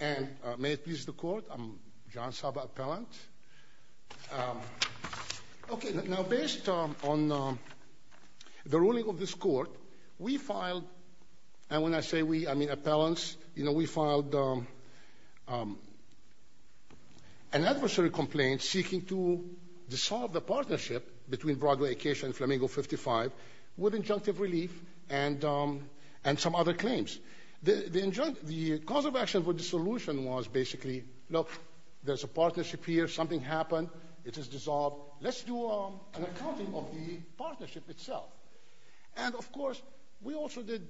And may it please the court, I'm John Saba, appellant. Okay, now based on the ruling of this court, we filed, and when I say we, I mean appellants, you know, we filed an adversary complaint seeking to dissolve the partnership between Broadway Acacia and Flamingo 55 with injunctive relief and some other claims. The cause of action for dissolution was basically, look, there's a partnership here, something happened, it is dissolved, let's do an accounting of the partnership itself. And of course, we also did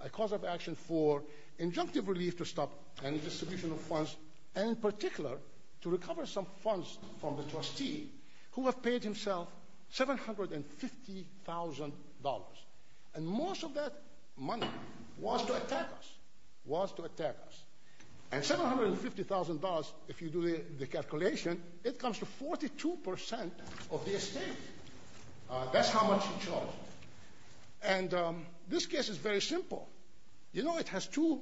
a cause of action for injunctive relief to stop any distribution of funds, and in particular, to recover some funds from the trustee who have paid himself $750,000. And most of that money was to attack us, was to attack us. And $750,000, if you do the calculation, it comes to 42% of the estate, that's how much he charged. And this case is very simple. You know, it has two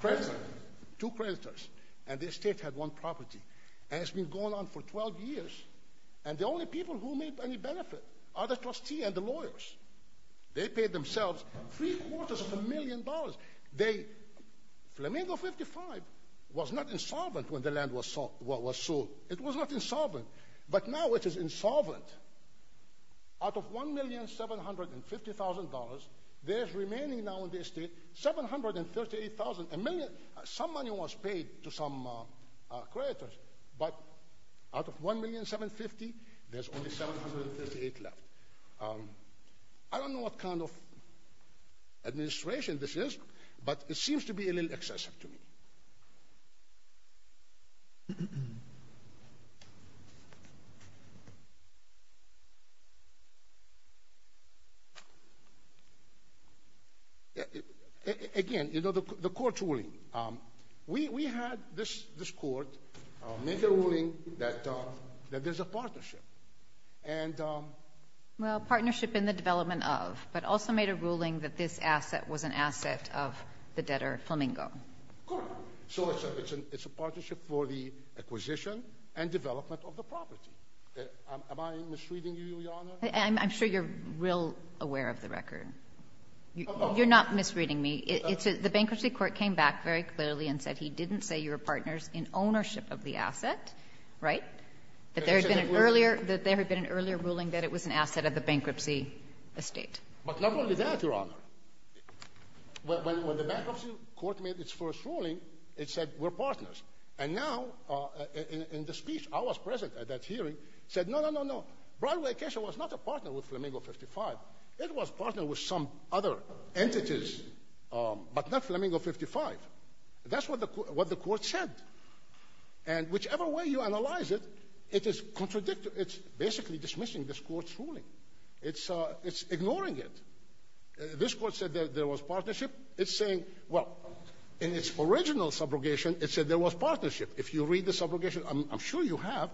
creditors, and the estate had one property, and it's been going on for 12 years, and the only people who made any benefit are the trustee and the lawyers. They paid themselves three quarters of a million dollars. Flamingo 55 was not insolvent when the land was sold. It was not insolvent, but now it is insolvent. Out of $1,750,000, there's remaining now in the estate, 738,000, a million, some money was paid to some creditors, but out of $1,750,000, there's only 738,000. I don't know what kind of administration this is, but it seems to be a little excessive to me. Again, you know, the court ruling. We had this court make a ruling that there's a partnership. Well, partnership in the development of, but also made a ruling that this asset was an asset of the debtor, Flamingo. Correct, so it's a partnership for the acquisition and development of the property. Am I misreading you, Your Honor? I'm sure you're real aware of the record. You're not misreading me. The bankruptcy court came back very clearly and said he didn't say you were partners in ownership of the asset, right? That there had been an earlier ruling that it was an asset of the bankruptcy estate. But not only that, Your Honor. When the bankruptcy court made its first ruling, it said we're partners, and now in the speech, I was present at that hearing, said no, no, no, no. Broadway Acacia was not a partner with Flamingo 55. It was partner with some other entities, but not Flamingo 55. That's what the court said. And whichever way you analyze it, it is contradictory. It's basically dismissing this court's ruling. It's ignoring it. This court said that there was partnership. It's saying, well, in its original subrogation, it said there was partnership. If you read the subrogation, I'm sure you have,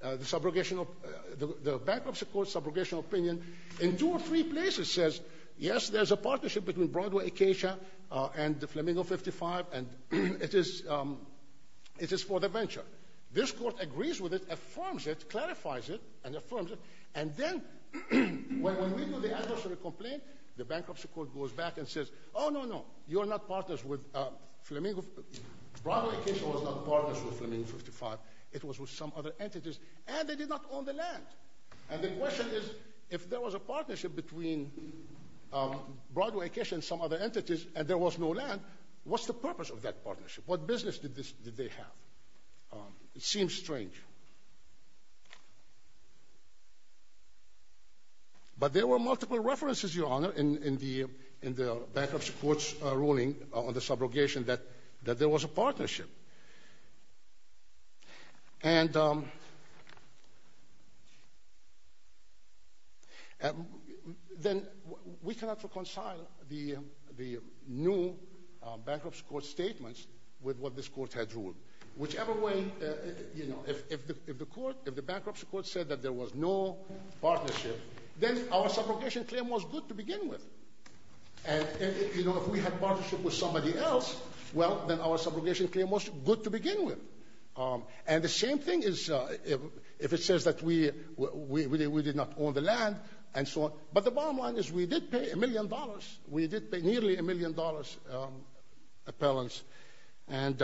the bankruptcy court's subrogational opinion in two or three places says, yes, there's a partnership between Broadway Acacia and the Flamingo 55, and it is for the venture. This court agrees with it, affirms it, clarifies it, and affirms it, and then when we do the adversary complaint, the bankruptcy court goes back and says, oh, no, no, you are not partners with Flamingo. Broadway Acacia was not partners with Flamingo 55. It was with some other entities, and they did not own the land. And the question is, if there was a partnership between Broadway Acacia and some other entities, and there was no land, what's the purpose of that partnership? What business did they have? It seems strange. But there were multiple references, Your Honor, in the bankruptcy court's ruling on the subrogation that there was a partnership. And then we cannot reconcile the new bankruptcy court statements with what this court had ruled. Whichever way, if the bankruptcy court said that there was no partnership, then our subrogation claim was good to begin with. And if we had partnership with somebody else, well, then our subrogation claim was good to begin with. And the same thing is if it says that we did not own the land, and so on. But the bottom line is we did pay a million dollars. We did pay nearly a million dollars appellants. And...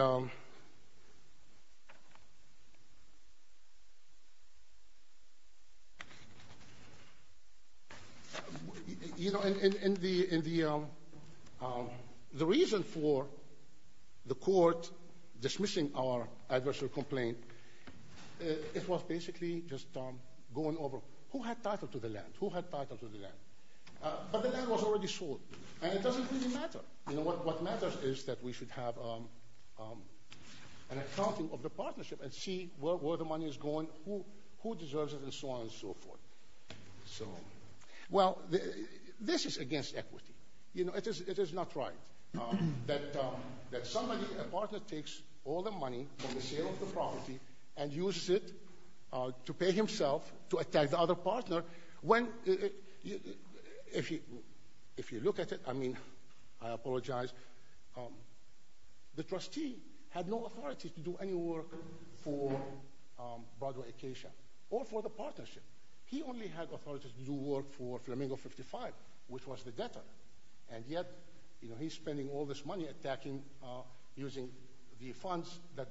The reason for the court dismissing our adversarial complaint it was basically just going over, who had title to the land? Who had title to the land? But the land was already sold. And it doesn't really matter. You know, what matters is that we should have an accounting of the partnership and see where the money is going, who deserves it, and so on and so forth. So, well, this is against equity. You know, it is not right that somebody, a partner takes all the money from the sale of the property and uses it to pay himself to attack the other partner. When, if you look at it, I mean, I apologize. The trustee had no authority to do any work for Broadway Acacia or for the partnership. He only had authority to do work for Flamingo 55, which was the debtor. And yet, you know, he's spending all this money attacking using the funds that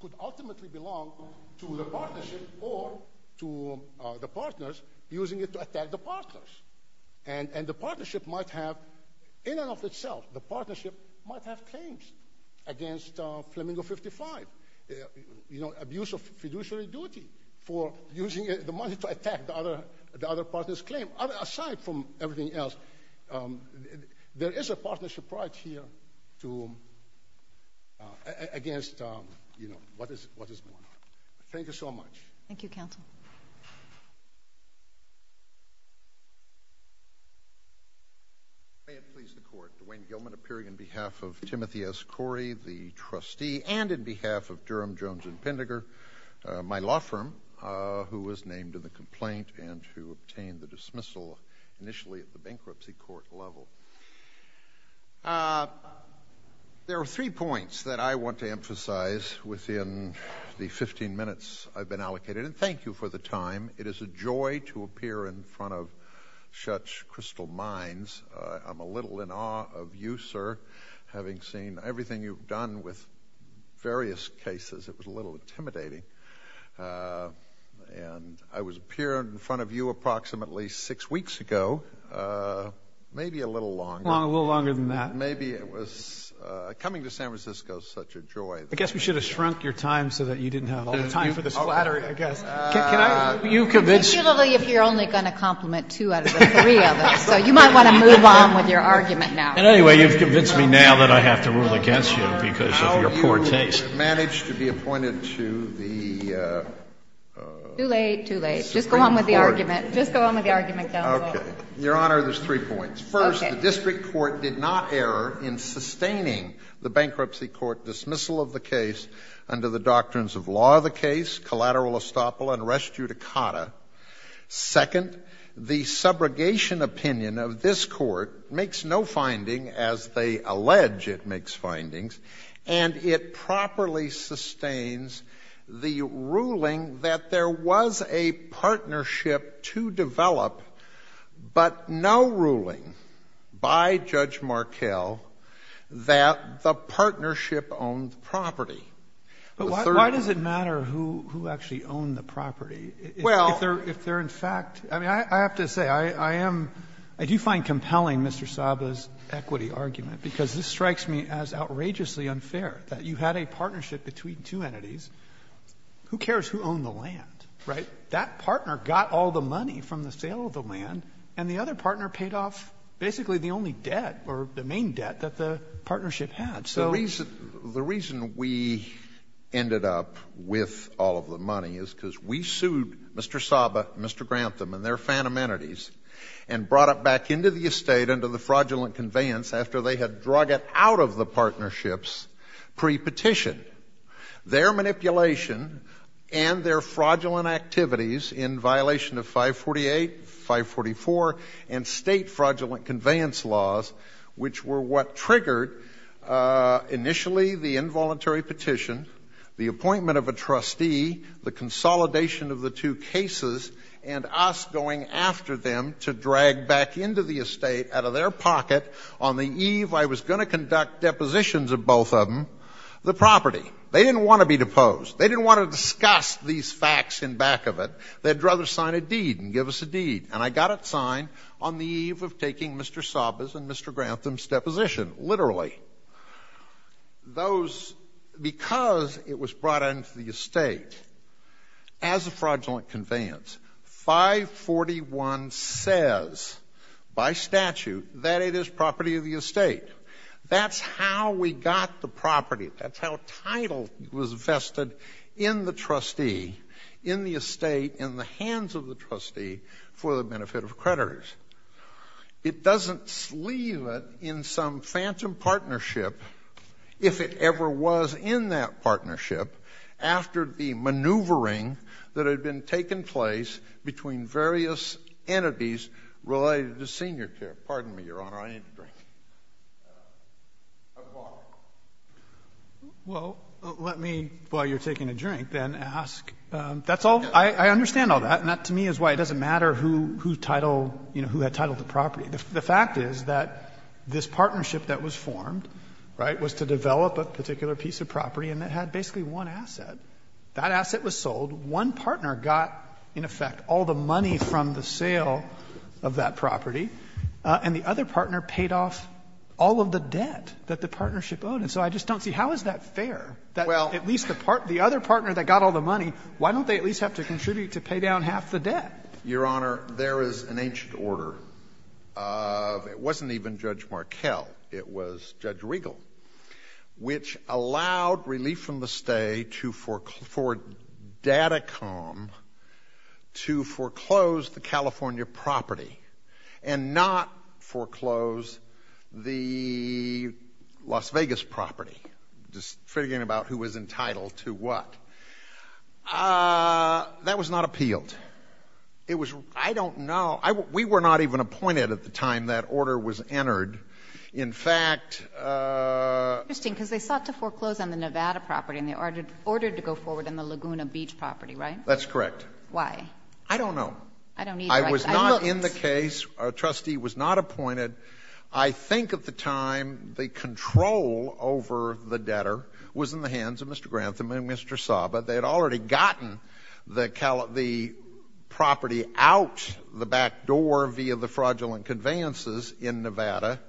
could ultimately belong to the partnership or to the partners, using it to attack the partners. And the partnership might have, in and of itself, the partnership might have claims against Flamingo 55. You know, abuse of fiduciary duty for using the money to attack the other partner's claim. Aside from everything else, there is a partnership right here to, against, you know, what is going on. Thank you so much. Thank you, counsel. May it please the court, Dwayne Gilman appearing on behalf of Timothy S. Corey, the trustee, and on behalf of Durham, Jones, and Pinderger, my law firm, who was named in the complaint and who obtained the dismissal initially at the bankruptcy court level. There are three points that I want to emphasize within the 15 minutes I've been allocated. And thank you for the time. It is a joy to appear in front of such crystal minds. I'm a little in awe of you, sir, having seen everything you've done with various cases. It was a little intimidating. And I was appearing in front of you approximately six weeks ago, maybe a little longer. A little longer than that. Maybe it was, coming to San Francisco is such a joy. I guess we should have shrunk your time so that you didn't have all the time for the splatter, I guess. Can I, you convinced- Particularly if you're only going to compliment two out of the three of us. So you might want to move on with your argument now. And anyway, you've convinced me now that I have to rule against you because of your poor taste. How you managed to be appointed to the- Too late, too late. Just go on with the argument. Just go on with the argument, counsel. Your honor, there's three points. First, the district court did not err in sustaining the bankruptcy court dismissal of the case under the doctrines of law of the case, collateral estoppel, and res judicata. Second, the subrogation opinion of this court makes no finding as they allege it makes findings. And it properly sustains the ruling that there was a partnership to develop, but no ruling by Judge Markell that the partnership owned property. The third- But why does it matter who actually owned the property? Well- If they're in fact, I mean, I have to say I am, I do find compelling Mr. Saba's equity argument because this strikes me as outrageously unfair that you had a partnership between two entities. Who cares who owned the land, right? That partner got all the money from the sale of the land and the other partner paid off basically the only debt or the main debt that the partnership had. So- The reason we ended up with all of the money is because we sued Mr. Saba, Mr. Grantham and their fan amenities and brought it back into the estate under the fraudulent conveyance after they had drug it out of the partnerships pre-petition. Their manipulation and their fraudulent activities in violation of 548, 544 and state fraudulent conveyance laws which were what triggered initially the involuntary petition, the appointment of a trustee, the consolidation of the two cases and us going after them to drag back into the estate out of their pocket on the eve I was gonna conduct depositions of both of them, the property. They didn't wanna be deposed. They didn't wanna discuss these facts in back of it. They'd rather sign a deed and give us a deed. And I got it signed on the eve of taking Mr. Saba's and Mr. Grantham's deposition, literally. Those, because it was brought into the estate as a fraudulent conveyance, 541 says by statute that it is property of the estate. That's how we got the property. That's how title was vested in the trustee, in the estate, in the hands of the trustee for the benefit of creditors. It doesn't leave it in some phantom partnership if it ever was in that partnership after the maneuvering that had been taking place between various entities related to senior care. Pardon me, Your Honor. I need a drink. At the bar. Well, let me, while you're taking a drink, then ask, that's all, I understand all that. And that, to me, is why it doesn't matter who had titled the property. The fact is that this partnership that was formed was to develop a particular piece of property and it had basically one asset. That asset was sold. One partner got, in effect, all the money from the sale of that property. And the other partner paid off all of the debt that the partnership owed. And so I just don't see, how is that fair? That at least the other partner that got all the money, why don't they at least have to contribute to pay down half the debt? Your Honor, there is an ancient order of, it wasn't even Judge Markell. It was Judge Riegel, which allowed relief from the stay to for Datacom to foreclose the California property. And not foreclose the Las Vegas property. Just figuring about who was entitled to what. That was not appealed. It was, I don't know, we were not even appointed at the time that order was entered. In fact. Interesting, because they sought to foreclose on the Nevada property and they ordered to go forward in the Laguna Beach property, right? That's correct. Why? I don't know. I don't need to write. It was not in the case. A trustee was not appointed. I think at the time, the control over the debtor was in the hands of Mr. Grantham and Mr. Saba. They had already gotten the property out the back door via the fraudulent conveyances in Nevada.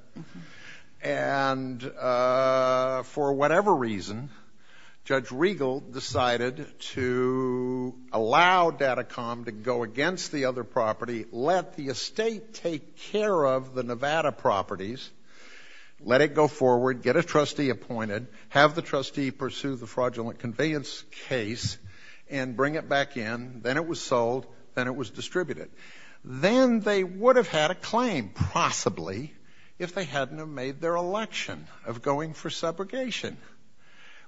And for whatever reason, Judge Riegel decided to allow Datacom to go against the other property, let the estate take care of the Nevada properties, let it go forward, get a trustee appointed, have the trustee pursue the fraudulent conveyance case, and bring it back in, then it was sold, then it was distributed. Then they would have had a claim, possibly, if they hadn't have made their election of going for subrogation.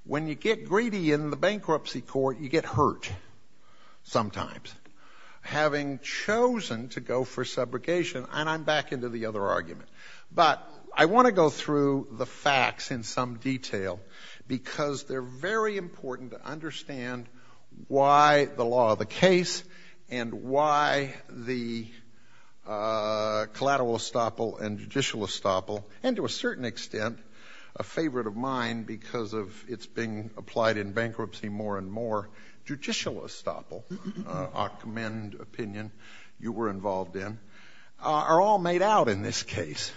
When you get greedy in the bankruptcy court, you get hurt sometimes. Having chosen to go for subrogation, and I'm back into the other argument, but I wanna go through the facts in some detail because they're very important to understand why the law of the case and why the collateral estoppel and judicial estoppel, and to a certain extent, a favorite of mine because of it's being applied in bankruptcy more and more, judicial estoppel, a commend opinion you were involved in, are all made out in this case.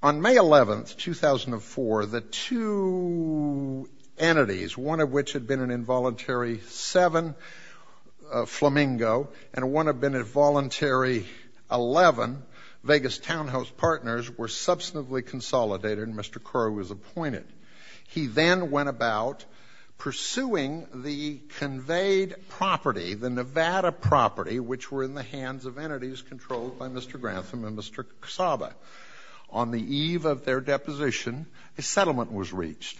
On May 11th, 2004, the two entities, one of which had been an involuntary seven, Flamingo, and one had been a voluntary 11, Vegas townhouse partners were substantively consolidated, and Mr. Crowe was appointed. He then went about pursuing the conveyed property, the Nevada property, which were in the hands of entities controlled by Mr. Grantham and Mr. Kasaba. On the eve of their deposition, a settlement was reached.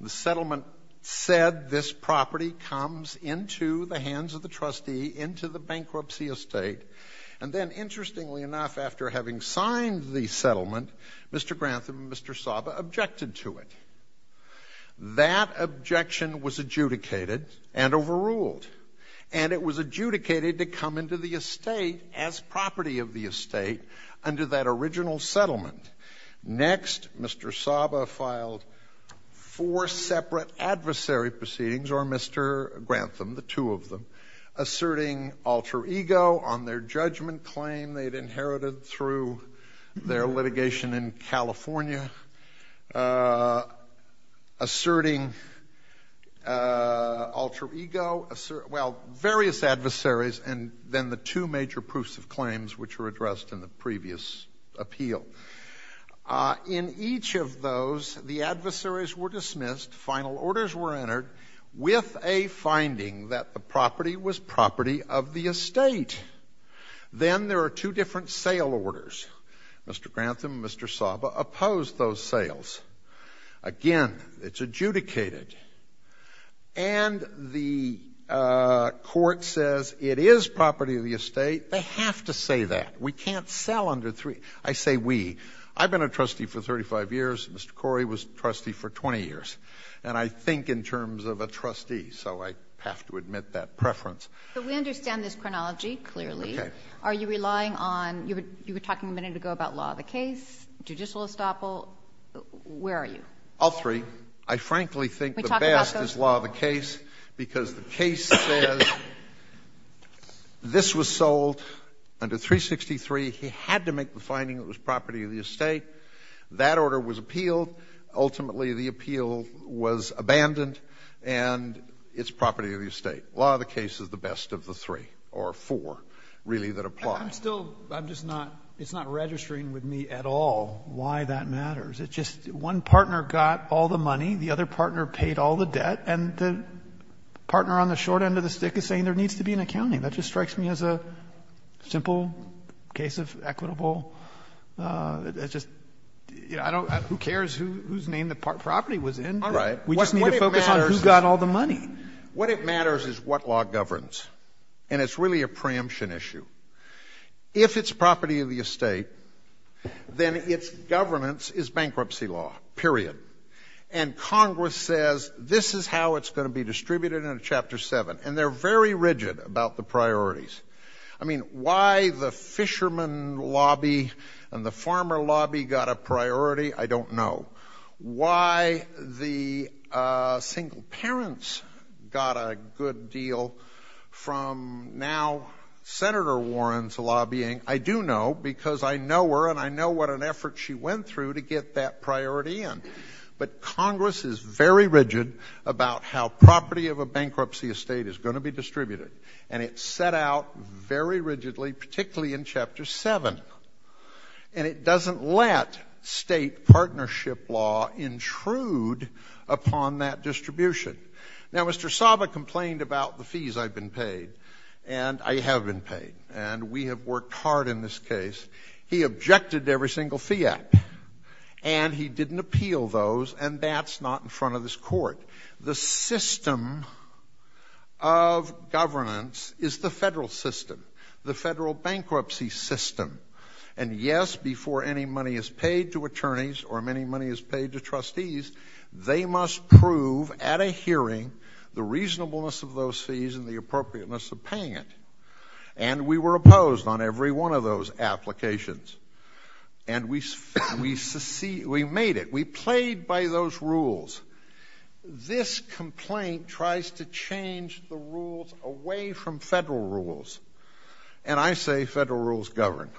The settlement said this property comes into the hands of the trustee, into the bankruptcy estate, and then interestingly enough, after having signed the settlement, Mr. Grantham and Mr. Kasaba objected to it. That objection was adjudicated and overruled, and it was adjudicated to come into the estate as property of the estate under that original settlement. Next, Mr. Kasaba filed four separate adversary proceedings, or Mr. Grantham, the two of them, asserting alter ego on their judgment claim they'd inherited through their litigation in California, asserting alter ego, well, various adversaries, and then the two major proofs of claims which were addressed in the previous appeal. In each of those, the adversaries were dismissed, final orders were entered with a finding that the property was property of the estate. Then there are two different sale orders. Mr. Grantham and Mr. Kasaba opposed those sales. Again, it's adjudicated, and the court says it is property of the estate, they have to say that. We can't sell under three, I say we. I've been a trustee for 35 years, Mr. Corey was trustee for 20 years, and I think in terms of a trustee, so I have to admit that preference. But we understand this chronology clearly. Are you relying on, you were talking a minute ago about law of the case, judicial estoppel, where are you? All three, I frankly think the best is law of the case because the case says this was sold under 363, he had to make the finding it was property of the estate, that order was appealed, ultimately the appeal was abandoned and it's property of the estate. Law of the case is the best of the three, or four, really, that apply. I'm still, I'm just not, it's not registering with me at all why that matters. It's just one partner got all the money, the other partner paid all the debt, and the partner on the short end of the stick is saying there needs to be an accounting. That just strikes me as a simple case of equitable, it's just, who cares whose name the property was in? We just need to focus on who got all the money. What it matters is what law governs, and it's really a preemption issue. If it's property of the estate, then it's governance is bankruptcy law, period. And Congress says this is how it's gonna be distributed in Chapter Seven, and they're very rigid about the priorities. I mean, why the fisherman lobby and the farmer lobby got a priority, I don't know. Why the single parents got a good deal from now Senator Warren's lobbying, I do know, because I know her and I know what an effort she went through to get that priority in. But Congress is very rigid about how property of a bankruptcy estate is gonna be distributed, and it set out very rigidly, particularly in Chapter Seven. And it doesn't let state partnership law intrude upon that distribution. Now, Mr. Saba complained about the fees I've been paid, and I have been paid, and we have worked hard in this case. He objected to every single fee act, and he didn't appeal those, and that's not in front of this court. The system of governance is the federal system, the federal bankruptcy system. And yes, before any money is paid to attorneys or any money is paid to trustees, they must prove at a hearing the reasonableness of those fees and the appropriateness of paying it. And we were opposed on every one of those applications. And we made it, we played by those rules. This complaint tries to change the rules away from federal rules. And I say federal rules govern.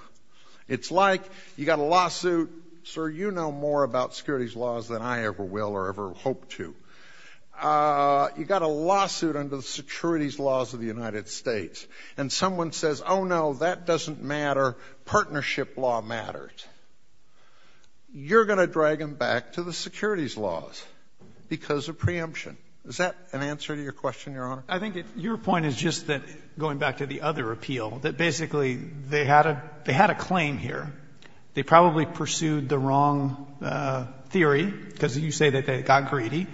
It's like you got a lawsuit, sir, you know more about securities laws than I ever will or ever hope to. You got a lawsuit under the securities laws of the United States, and someone says, oh no, that doesn't matter, partnership law matters. You're going to drag them back to the securities laws because of preemption. Is that an answer to your question, Your Honor? I think your point is just that, going back to the other appeal, that basically they had a claim here. They probably pursued the wrong theory, because you say that they got greedy,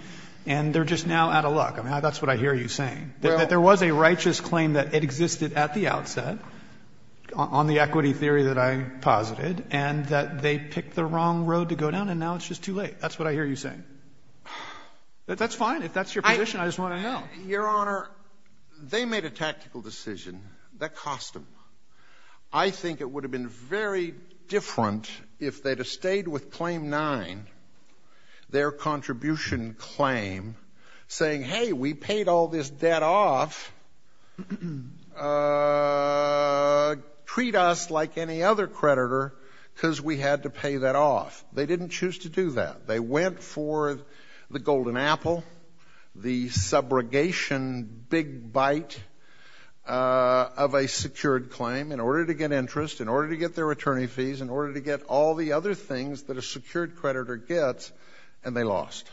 and they're just now out of luck. I mean, that's what I hear you saying, that there was a righteous claim that it existed at the outset on the equity theory that I posited, and that they picked the wrong road to go down, and now it's just too late. That's what I hear you saying. That's fine, if that's your position, I just want to know. Your Honor, they made a tactical decision that cost them. I think it would have been very different if they'd have stayed with claim nine, their contribution claim, saying, hey, we paid all this debt off, treat us like any other creditor, because we had to pay that off. They didn't choose to do that. They went for the golden apple, the subrogation big bite of a secured claim, in order to get interest, in order to get their attorney fees, in order to get all the other things that a secured creditor gets, and they lost,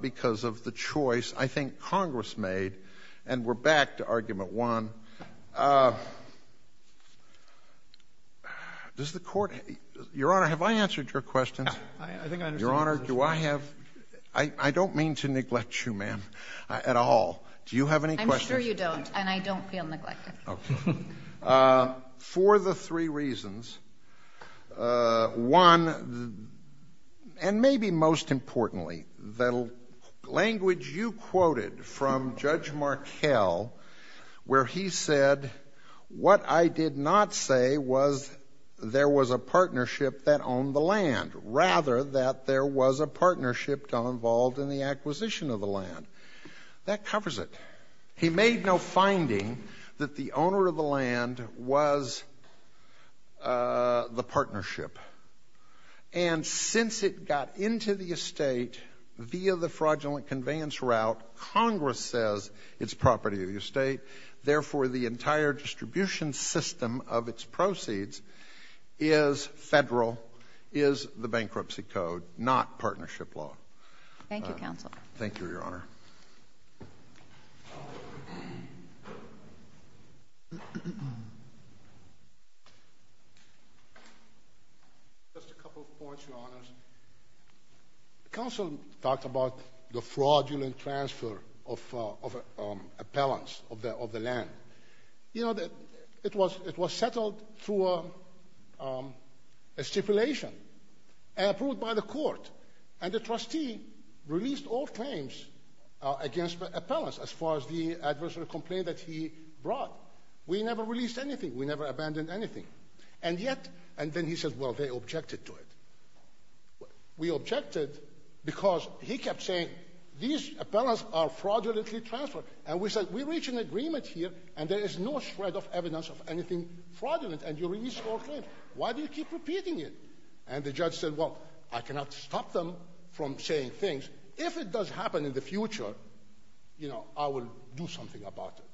because of the choice I think Congress made, and we're back to argument one. Does the court, Your Honor, have I answered your question? I think I understand your question. Your Honor, do I have, I don't mean to neglect you, ma'am, at all. Do you have any questions? I'm sure you don't, and I don't feel neglected. Okay. For the three reasons, one, and maybe most importantly, the language you quoted from Judge Markell, where he said, what I did not say was, there was a partnership that owned the land, rather that there was a partnership involved in the acquisition of the land. That covers it. He made no finding that the owner of the land was the partnership, and since it got into the estate via the fraudulent conveyance route, Congress says it's property of the estate, therefore the entire distribution system of its proceeds is federal, is the bankruptcy code, not partnership law. Thank you, Counsel. Thank you, Your Honor. Thank you. Just a couple of points, Your Honors. Counsel talked about the fraudulent transfer of appellants of the land. You know, it was settled through a stipulation, and approved by the court, and the trustee released all claims against appellants, as far as the adversary complaint that he brought. We never released anything, we never abandoned anything. And yet, and then he says, well, they objected to it. We objected because he kept saying, these appellants are fraudulently transferred, and we said, we reached an agreement here, and there is no shred of evidence of anything fraudulent, and you released all claims. Why do you keep repeating it? And the judge said, well, I cannot stop them from saying things. If it does happen in the future, you know, I will do something about it.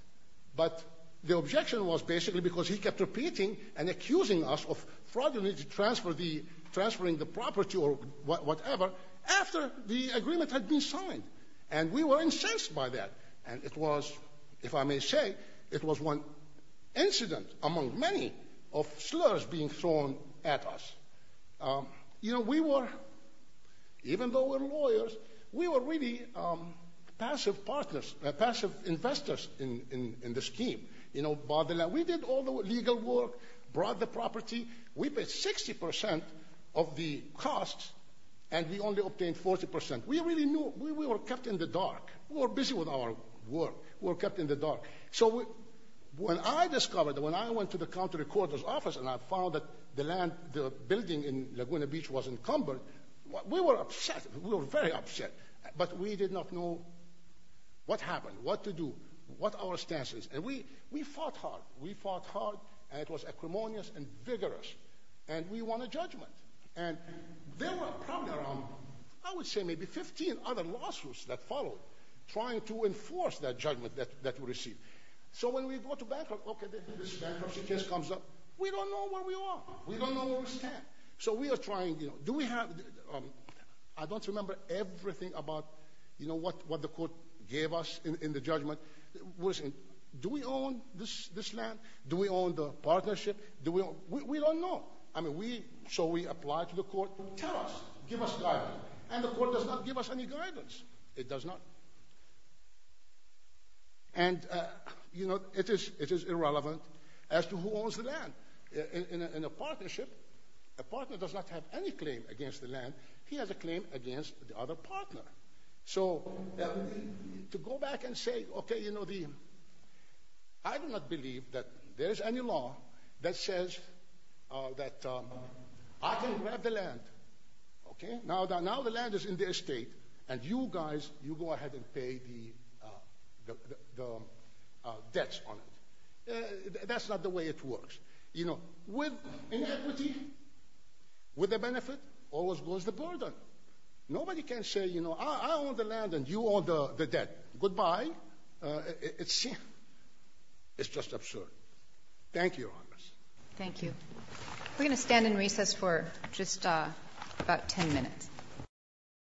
But the objection was basically because he kept repeating, and accusing us of fraudulently transferring the property, or whatever, after the agreement had been signed. And we were incensed by that. And it was, if I may say, it was one incident among many, of slurs being thrown at us. You know, we were, even though we're lawyers, we were really passive partners, in the scheme. You know, we did all the legal work, brought the property, we paid 60% of the costs, and we only obtained 40%. We really knew, we were kept in the dark. We were busy with our work, we were kept in the dark. So when I discovered, when I went to the county recorder's office, and I found that the land, the building in Laguna Beach was encumbered, we were upset, we were very upset. But we did not know what happened, what to do, what our stance is. And we fought hard, we fought hard, and it was equimonious and vigorous. And we won a judgment. And there were probably around, I would say maybe 15 other lawsuits that followed, trying to enforce that judgment that we received. So when we go to bank, okay, this bankruptcy case comes up, we don't know where we are, we don't know where we stand. So we are trying, you know, do we have, I don't remember everything about, you know, what the court gave us in the judgment. Was it, do we own this land? Do we own the partnership? Do we own, we don't know. I mean, we, so we applied to the court, tell us, give us guidance. And the court does not give us any guidance. It does not. And, you know, it is irrelevant as to who owns the land. In a partnership, a partner does not have any claim against the land. He has a claim against the other partner. So, to go back and say, okay, you know the, I do not believe that there is any law that says that I can grab the land. Okay, now the land is in the estate, and you guys, you go ahead and pay the debts on it. That's not the way it works. You know, with inequity, with the benefit, always goes the burden. Nobody can say, you know, I own the land and you own the debt. Goodbye. It's sin. It's just absurd. Thank you, Your Honor. Thank you. We're gonna stand in recess for just about 10 minutes.